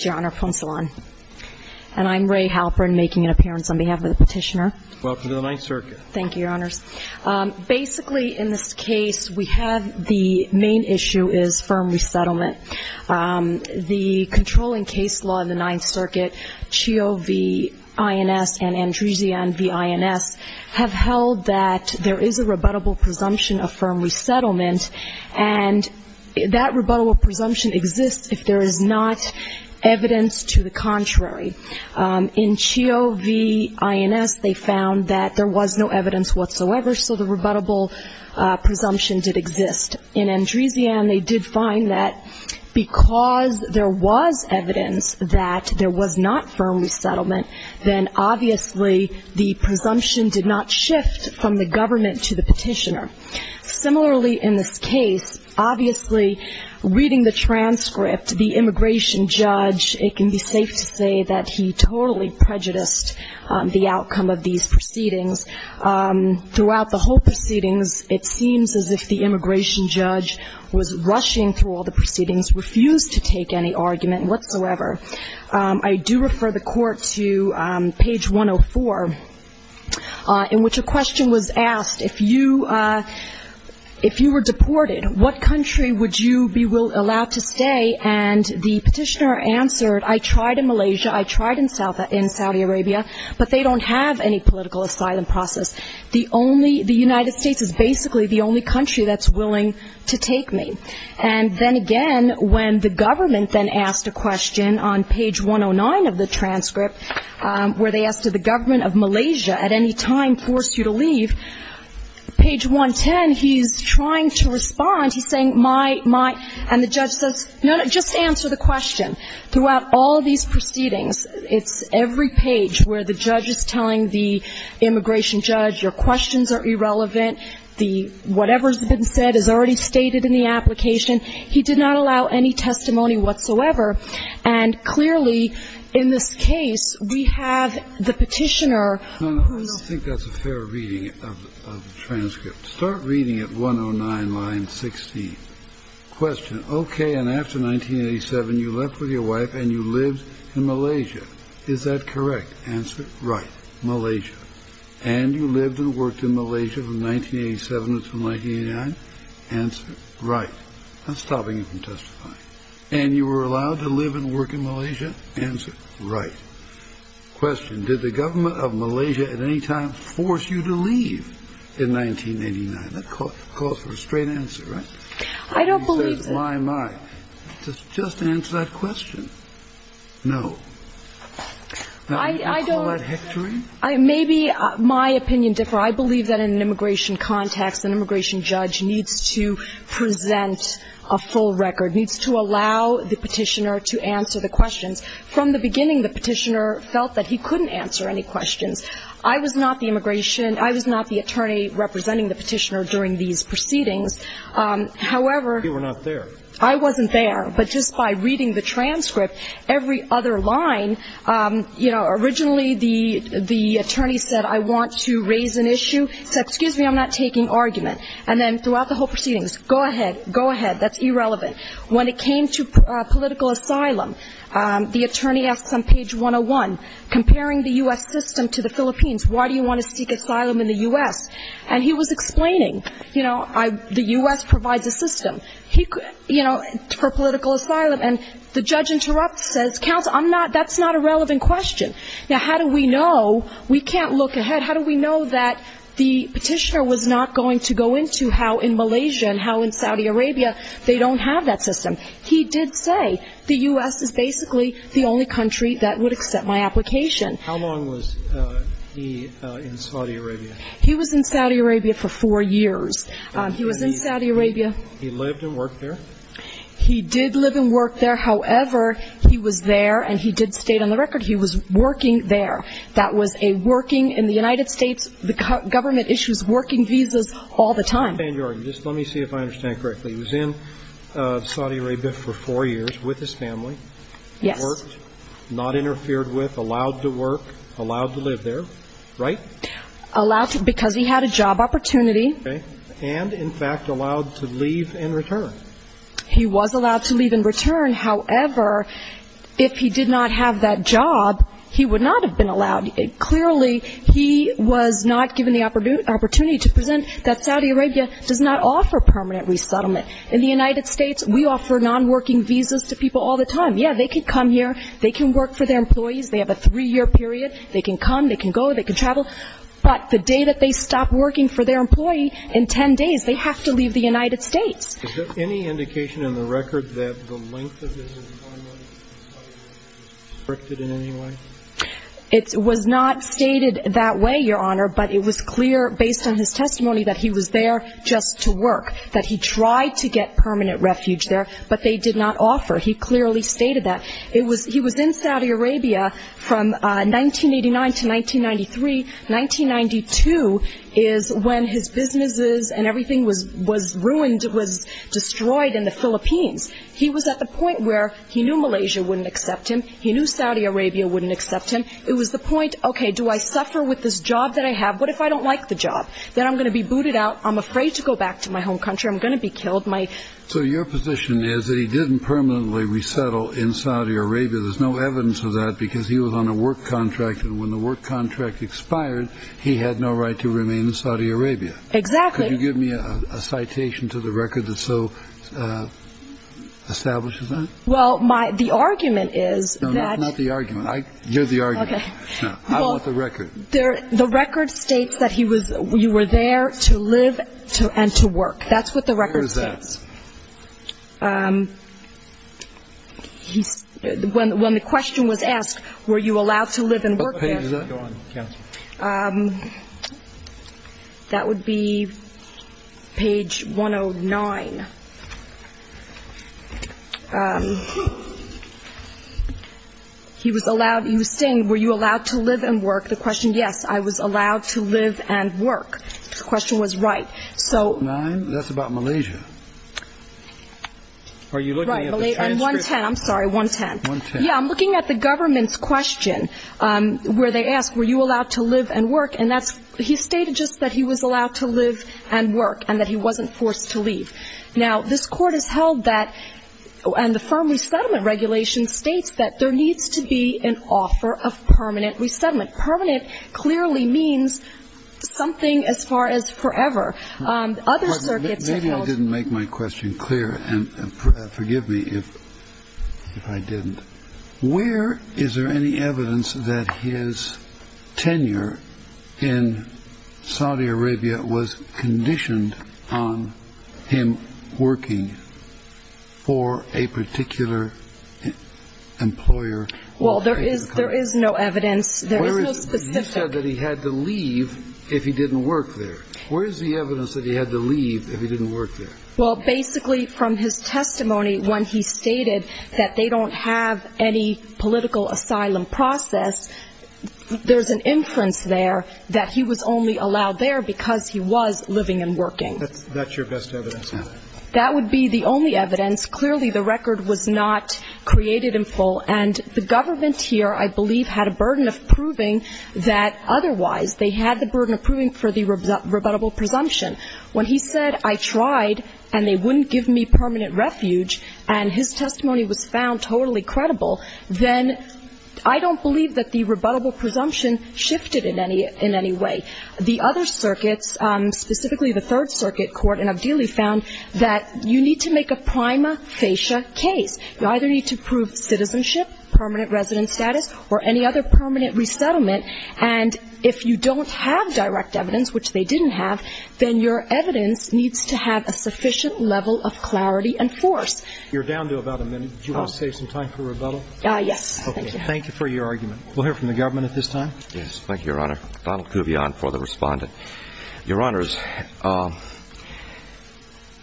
and I'm Ray Halperin making an appearance on behalf of the petitioner. Welcome to the Ninth Circuit. Thank you, Your Honors. Basically, in this case, we have the main issue is firm resettlement. The controlling case law in the Ninth Circuit, CHIO v. INS and Andresian v. INS, have held that there is a rebuttable presumption of firm resettlement, and that rebuttable presumption exists if there is not evidence to the contrary. In CHIO v. INS, they found that there was no evidence whatsoever, so the rebuttable presumption did exist. In Andresian, they did find that because there was evidence that there was not firm resettlement, then obviously the presumption did not shift from the government to the petitioner. Similarly, in this case, obviously, reading the transcript, the immigration judge, it can be safe to say that he totally prejudiced the outcome of these proceedings. Throughout the whole proceedings, it seems as if the immigration judge was rushing through all the proceedings, refused to take any argument whatsoever. I do refer the Court to page 104, in which a question was asked, if you were deported, what country would you be allowed to stay? And the petitioner answered, I tried in Malaysia, I tried in Saudi Arabia, but they don't have any political asylum process. The United States is basically the only country that's willing to take me. And then again, when the government then asked a question on page 109 of the transcript, where they asked, did the government of Malaysia at any time force you to leave? Page 110, he's trying to respond. He's saying, my, my, and the judge says, no, no, just answer the question. Throughout all these proceedings, it's every page where the judge is telling the immigration judge, your questions are irrelevant, the whatever's been said is already stated in the application. He did not allow any testimony whatsoever. And clearly, in this case, we have the petitioner. No, no. I think that's a fair reading of the transcript. Start reading at 109, line 16. Question. Okay. And after 1987, you left with your wife and you lived in Malaysia. Is that correct? Answer. Right. Malaysia. And you lived and worked in Malaysia from 1987 until 1989? Answer. Right. I'm stopping you from testifying. And you were allowed to live and work in Malaysia? Answer. Right. Question. Did the government of Malaysia at any time force you to leave in 1989? That calls for a straight answer, right? I don't believe that. He says, my, my. Just answer that question. No. I don't. You call that hectoring? Maybe my opinion differ. I believe that in an immigration context, an immigration judge needs to present a full record, needs to allow the petitioner to answer the questions. From the beginning, the petitioner felt that he couldn't answer any questions. I was not the immigration, I was not the attorney representing the petitioner during these proceedings. However. You were not there. I wasn't there. But just by reading the transcript, every other line, you know, originally the attorney said, I want to raise an issue. He said, excuse me, I'm not taking argument. And then throughout the whole proceedings, go ahead, go ahead, that's irrelevant. When it came to political asylum, the attorney asks on page 101, comparing the U.S. system to the Philippines, why do you want to seek asylum in the U.S.? And he was explaining, you know, the U.S. provides a system, you know, for political asylum. And the judge interrupts, says, counsel, I'm not, that's not a relevant question. Now, how do we know? We can't look ahead. But how do we know that the petitioner was not going to go into how in Malaysia and how in Saudi Arabia they don't have that system? He did say the U.S. is basically the only country that would accept my application. How long was he in Saudi Arabia? He was in Saudi Arabia for four years. He was in Saudi Arabia. He lived and worked there? He did live and work there. However, he was there and he did state on the record he was working there. That was a working in the United States, the government issues working visas all the time. Ms. Van Jorgen, just let me see if I understand correctly. He was in Saudi Arabia for four years with his family. Yes. He worked, not interfered with, allowed to work, allowed to live there, right? Allowed to, because he had a job opportunity. Okay. And, in fact, allowed to leave and return. He was allowed to leave and return. However, if he did not have that job, he would not have been allowed. Clearly, he was not given the opportunity to present that Saudi Arabia does not offer permanent resettlement. In the United States, we offer nonworking visas to people all the time. Yes, they can come here. They can work for their employees. They have a three-year period. They can come, they can go, they can travel. But the day that they stop working for their employee, in ten days, they have to leave the United States. Is there any indication in the record that the length of his employment was restricted in any way? It was not stated that way, Your Honor, but it was clear, based on his testimony, that he was there just to work, that he tried to get permanent refuge there, but they did not offer. He clearly stated that. He was in Saudi Arabia from 1989 to 1993. 1992 is when his businesses and everything was ruined, was destroyed in the Philippines. He was at the point where he knew Malaysia wouldn't accept him. He knew Saudi Arabia wouldn't accept him. It was the point, okay, do I suffer with this job that I have? What if I don't like the job? Then I'm going to be booted out. I'm afraid to go back to my home country. I'm going to be killed. So your position is that he didn't permanently resettle in Saudi Arabia. There's no evidence of that because he was on a work contract. And when the work contract expired, he had no right to remain in Saudi Arabia. Exactly. Could you give me a citation to the record that so establishes that? Well, the argument is that. No, that's not the argument. You're the argument. Okay. I want the record. The record states that you were there to live and to work. That's what the record says. Where is that? When the question was asked, were you allowed to live and work there? What page does that go on, counsel? That would be page 109. He was saying, were you allowed to live and work? The question, yes, I was allowed to live and work. The question was right. Nine, that's about Malaysia. Are you looking at the transcript? Right, on 110. I'm sorry, 110. Yeah, I'm looking at the government's question where they ask, were you allowed to live and work? And he stated just that he was allowed to live and work and that he wasn't forced to leave. Now, this Court has held that, and the firm resettlement regulation states that there needs to be an offer of permanent resettlement. Permanent clearly means something as far as forever. Maybe I didn't make my question clear, and forgive me if I didn't. Where is there any evidence that his tenure in Saudi Arabia was conditioned on him working for a particular employer? Well, there is no evidence. You said that he had to leave if he didn't work there. Where is the evidence that he had to leave if he didn't work there? Well, basically, from his testimony when he stated that they don't have any political asylum process, there's an inference there that he was only allowed there because he was living and working. That's your best evidence now? That would be the only evidence. Clearly, the record was not created in full, and the government here, I believe, had a burden of proving that otherwise. They had the burden of proving for the rebuttable presumption. When he said, I tried, and they wouldn't give me permanent refuge, and his testimony was found totally credible, then I don't believe that the rebuttable presumption shifted in any way. The other circuits, specifically the Third Circuit Court in Avdili, found that you need to make a prima facie case. You either need to prove citizenship, permanent resident status, or any other permanent resettlement. And if you don't have direct evidence, which they didn't have, then your evidence needs to have a sufficient level of clarity and force. You're down to about a minute. Do you want to save some time for rebuttal? Yes. Thank you for your argument. We'll hear from the government at this time. Yes. Thank you, Your Honor. Donald Kuvion for the Respondent. Your Honors, the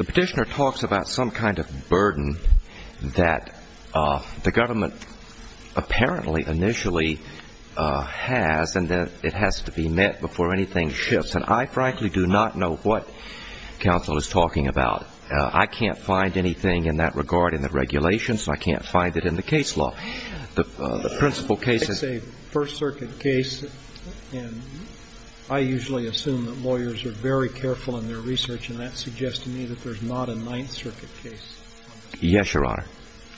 Petitioner talks about some kind of burden that the government apparently initially has, and that it has to be met before anything shifts. And I, frankly, do not know what counsel is talking about. I can't find anything in that regard in the regulations, and I can't find it in the case law. The principal case is a First Circuit case, and I usually assume that lawyers are very careful in their research, and that suggests to me that there's not a Ninth Circuit case. Yes, Your Honor.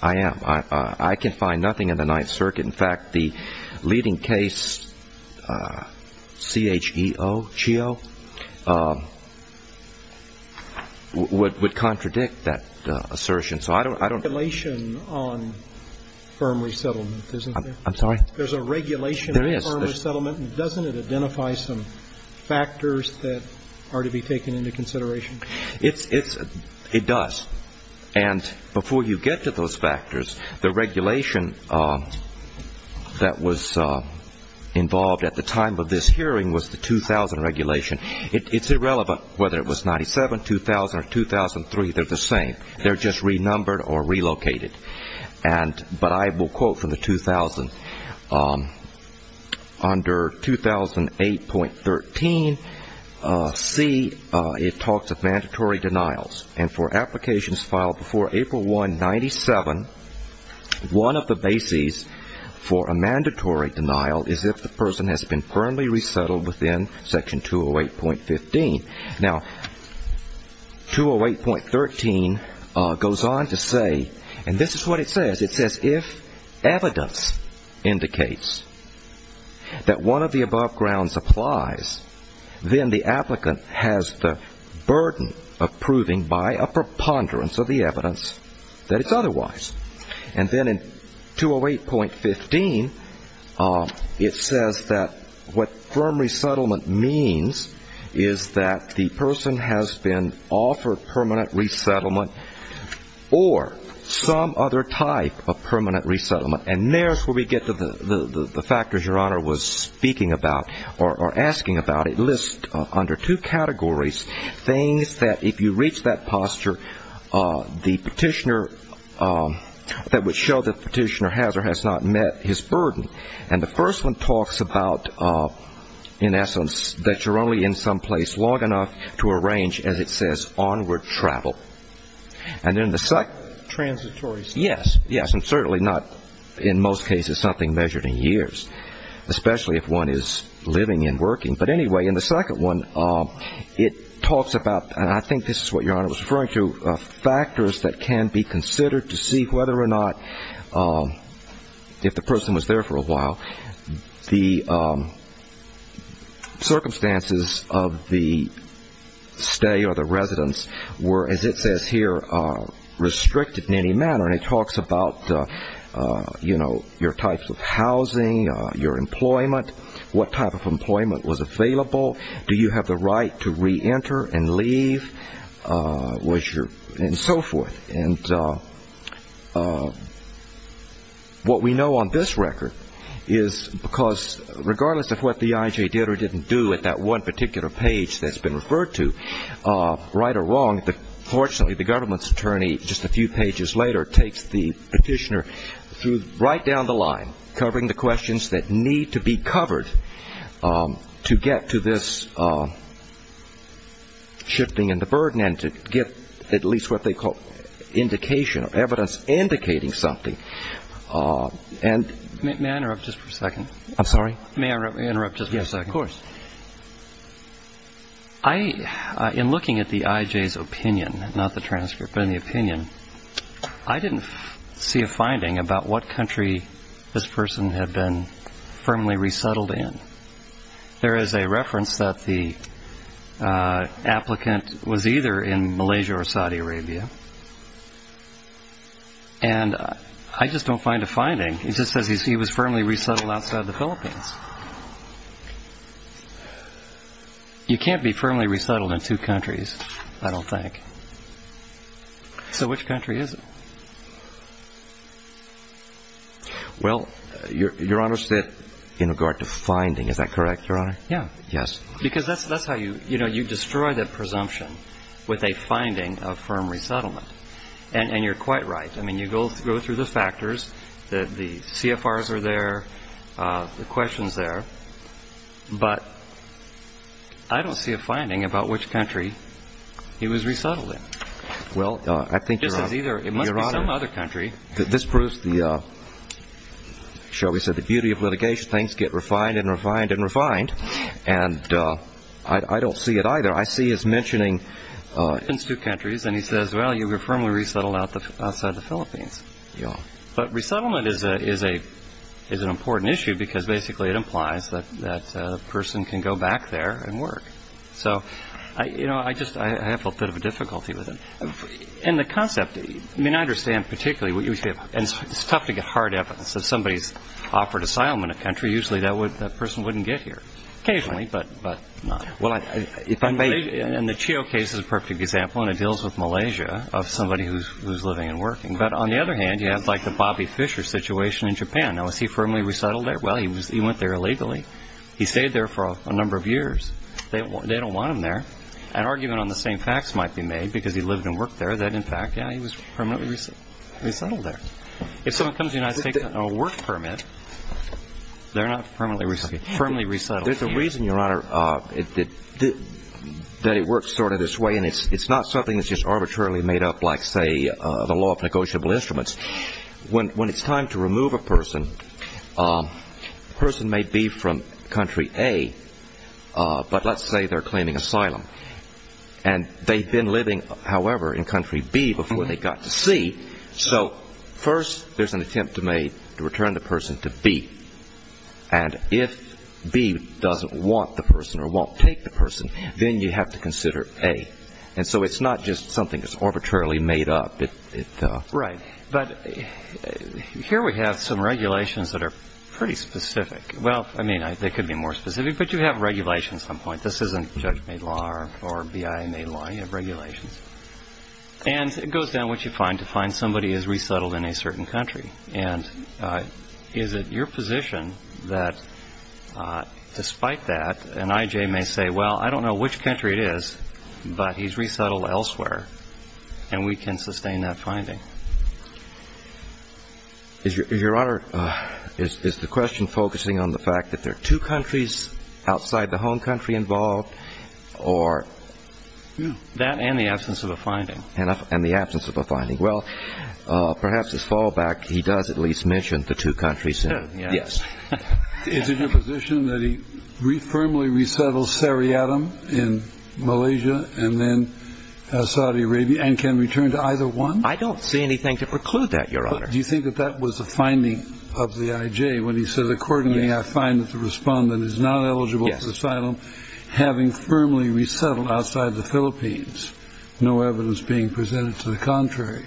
I am. I can find nothing in the Ninth Circuit. In fact, the leading case, C-H-E-O, would contradict that assertion. There's a regulation on firm resettlement, isn't there? I'm sorry? There's a regulation on firm resettlement, and doesn't it identify some factors that are to be taken into consideration? It does. And before you get to those factors, the regulation that was involved at the time of this hearing was the 2000 regulation. It's irrelevant whether it was 97, 2000, or 2003. They're the same. They're just renumbered or relocated. But I will quote from the 2000. Under 2008.13C, it talks of mandatory denials, and for applications filed before April 1, 1997, one of the bases for a mandatory denial is if the person has been firmly resettled within Section 208.15. Now, 208.13 goes on to say, and this is what it says. It says, if evidence indicates that one of the above grounds applies, then the applicant has the burden of proving by a preponderance of the evidence that it's otherwise. And then in 208.15, it says that what firm resettlement means is that the person has been offered permanent resettlement or some other type of permanent resettlement. And there's where we get to the factors Your Honor was speaking about or asking about. And it lists under two categories things that if you reach that posture, the petitioner that would show that the petitioner has or has not met his burden. And the first one talks about, in essence, that you're only in some place long enough to arrange, as it says, onward travel. And then the second. Transitory. Yes. Yes, and certainly not in most cases something measured in years, especially if one is living and working. But anyway, in the second one, it talks about, and I think this is what Your Honor was referring to, factors that can be considered to see whether or not if the person was there for a while, the circumstances of the stay or the residence were, as it says here, restricted in any manner. And it talks about, you know, your types of housing, your employment, what type of employment was available, do you have the right to reenter and leave, and so forth. And what we know on this record is because regardless of what the IJ did or didn't do at that one particular page that's been referred to, right or wrong, fortunately the government's attorney, just a few pages later, takes the petitioner right down the line covering the questions that need to be covered to get to this shifting in the burden and to get at least what they call indication or evidence indicating something. May I interrupt just for a second? I'm sorry? May I interrupt just for a second? Yes, of course. In looking at the IJ's opinion, not the transcript, but in the opinion, I didn't see a finding about what country this person had been firmly resettled in. There is a reference that the applicant was either in Malaysia or Saudi Arabia, and I just don't find a finding. It just says he was firmly resettled outside the Philippines. You can't be firmly resettled in two countries, I don't think. So which country is it? Well, Your Honor, in regard to finding, is that correct, Your Honor? Yeah. Yes. Because that's how you destroy the presumption with a finding of firm resettlement. And you're quite right. I mean, you go through the factors, the CFRs are there, the question's there, but I don't see a finding about which country he was resettled in. Well, I think, Your Honor, this proves the beauty of litigation. Things get refined and refined and refined, and I don't see it either. I see his mentioning two countries, and he says, well, you were firmly resettled outside the Philippines. Yeah. But resettlement is an important issue because basically it implies that the person can go back there and work. So, you know, I have a bit of a difficulty with it. And the concept, I mean, I understand particularly what you say, and it's tough to get hard evidence that somebody's offered asylum in a country, usually that person wouldn't get here, occasionally, but not. Well, if I may, and the Chio case is a perfect example, and it deals with Malaysia of somebody who's living and working. But on the other hand, you have, like, the Bobby Fisher situation in Japan. Now, was he firmly resettled there? Well, he went there illegally. He stayed there for a number of years. They don't want him there. An argument on the same facts might be made because he lived and worked there that, in fact, yeah, he was permanently resettled there. If someone comes to the United States on a work permit, they're not firmly resettled. There's a reason, Your Honor, that it works sort of this way, and it's not something that's just arbitrarily made up like, say, the law of negotiable instruments. When it's time to remove a person, the person may be from country A, but let's say they're claiming asylum. And they've been living, however, in country B before they got to C. So first there's an attempt to return the person to B. And if B doesn't want the person or won't take the person, then you have to consider A. And so it's not just something that's arbitrarily made up. Right. But here we have some regulations that are pretty specific. Well, I mean, they could be more specific, but you have regulations at some point. This isn't Judge made law or BIA made law. You have regulations. And it goes down, which you find, to find somebody is resettled in a certain country. And is it your position that despite that, an I.J. may say, well, I don't know which country it is, but he's resettled elsewhere and we can sustain that finding? Your Honor, is the question focusing on the fact that there are two countries outside the home country involved or? That and the absence of a finding. And the absence of a finding. Well, perhaps as fallback, he does at least mention the two countries. Yes. Is it your position that he firmly resettles Sariatam in Malaysia and then Saudi Arabia and can return to either one? I don't see anything to preclude that, Your Honor. Do you think that that was the finding of the I.J. when he said, Accordingly, I find that the respondent is not eligible for asylum, having firmly resettled outside the Philippines. No evidence being presented to the contrary.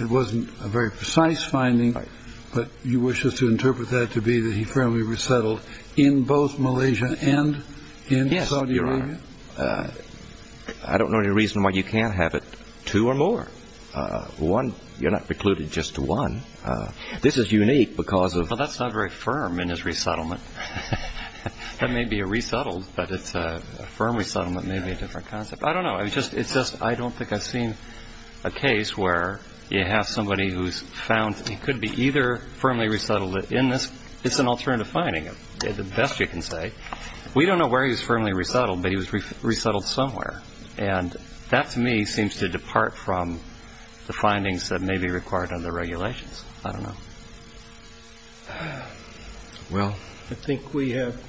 It wasn't a very precise finding. Right. But you wish us to interpret that to be that he firmly resettled in both Malaysia and in Saudi Arabia? Yes, Your Honor. I don't know any reason why you can't have it two or more. One, you're not precluded just to one. This is unique because of. Well, that's not very firm in his resettlement. That may be a resettled, but it's a firm resettlement may be a different concept. I don't know. It's just I don't think I've seen a case where you have somebody who's found he could be either firmly resettled in this. It's an alternative finding, the best you can say. We don't know where he was firmly resettled, but he was resettled somewhere. And that, to me, seems to depart from the findings that may be required under the regulations. I don't know. Well, I think we have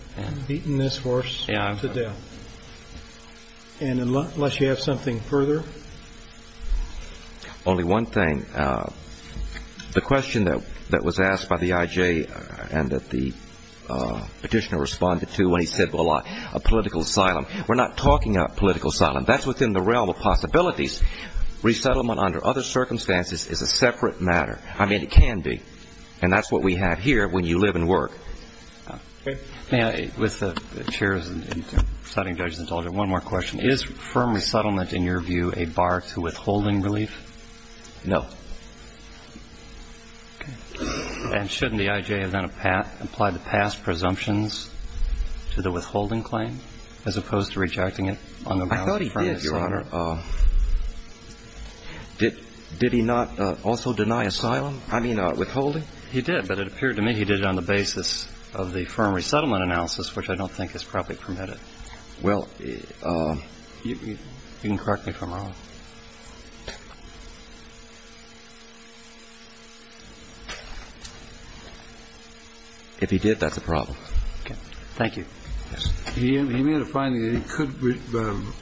beaten this horse to death. And unless you have something further. Only one thing. The question that was asked by the IJ and that the petitioner responded to when he said, well, a political asylum. We're not talking about political asylum. That's within the realm of possibilities. Resettlement under other circumstances is a separate matter. I mean, it can be. And that's what we have here when you live and work. May I, with the chairs and deciding judges, indulge in one more question. Is firm resettlement in your view a bar to withholding relief? No. And shouldn't the IJ have then applied the past presumptions to the withholding claim as opposed to rejecting it on the grounds of friendly asylum? I thought he did, Your Honor. Did he not also deny asylum? I mean, withholding? He did. But it appeared to me he did it on the basis of the firm resettlement analysis, which I don't think is properly permitted. Well, you can correct me if I'm wrong. If he did, that's a problem. Thank you. He made a finding that he could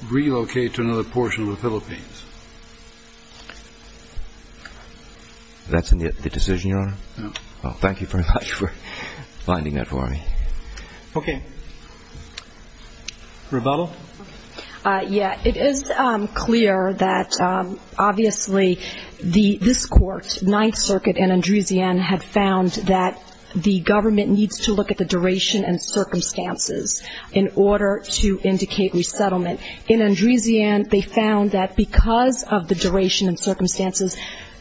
relocate to another portion of the Philippines. That's the decision, Your Honor? No. Well, thank you very much for finding that for me. Okay. Rebuttal? Yeah. It is clear that obviously this Court, Ninth Circuit and Andresian, have found that the government needs to look at the duration and circumstances in order to indicate resettlement. In Andresian, they found that because of the duration and circumstances,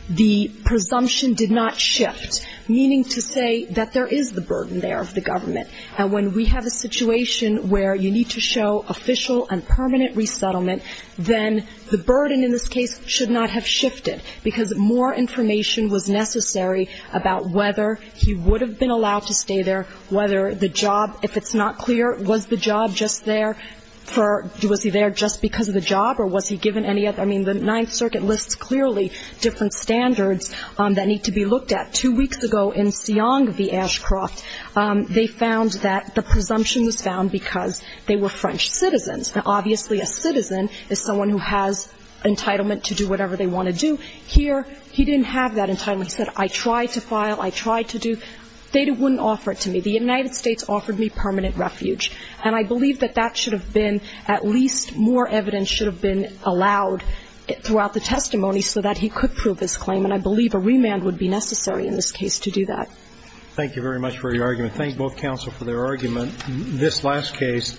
the presumption did not shift, meaning to say that there is the burden there of the government. And when we have a situation where you need to show official and permanent resettlement, then the burden in this case should not have shifted, because more information was necessary about whether he would have been allowed to stay there, whether the job, if it's not clear, was the job just there for, was he there just because of the job, or was he given any other, I mean, the Ninth Circuit lists clearly different standards that need to be looked at. Two weeks ago in Siong v. Ashcroft, they found that the presumption was found because they were French citizens. Now, obviously, a citizen is someone who has entitlement to do whatever they want to do. Here, he didn't have that entitlement. He said, I tried to file, I tried to do. They wouldn't offer it to me. The United States offered me permanent refuge. And I believe that that should have been at least more evidence should have been allowed throughout the testimony so that he could prove his claim, and I believe a remand would be necessary in this case to do that. Thank you very much for your argument. Thank both counsel for their argument. This last case,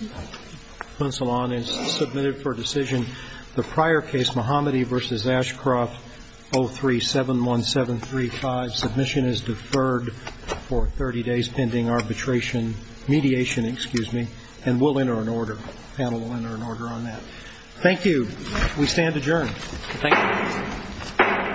Monsalon, is submitted for decision. The prior case, Mohammadi v. Ashcroft, 03-71735. Submission is deferred for 30 days pending arbitration, mediation, excuse me. And we'll enter an order. The panel will enter an order on that. Thank you. We stand adjourned. Thank you. Thank you. Thank you. Thank you.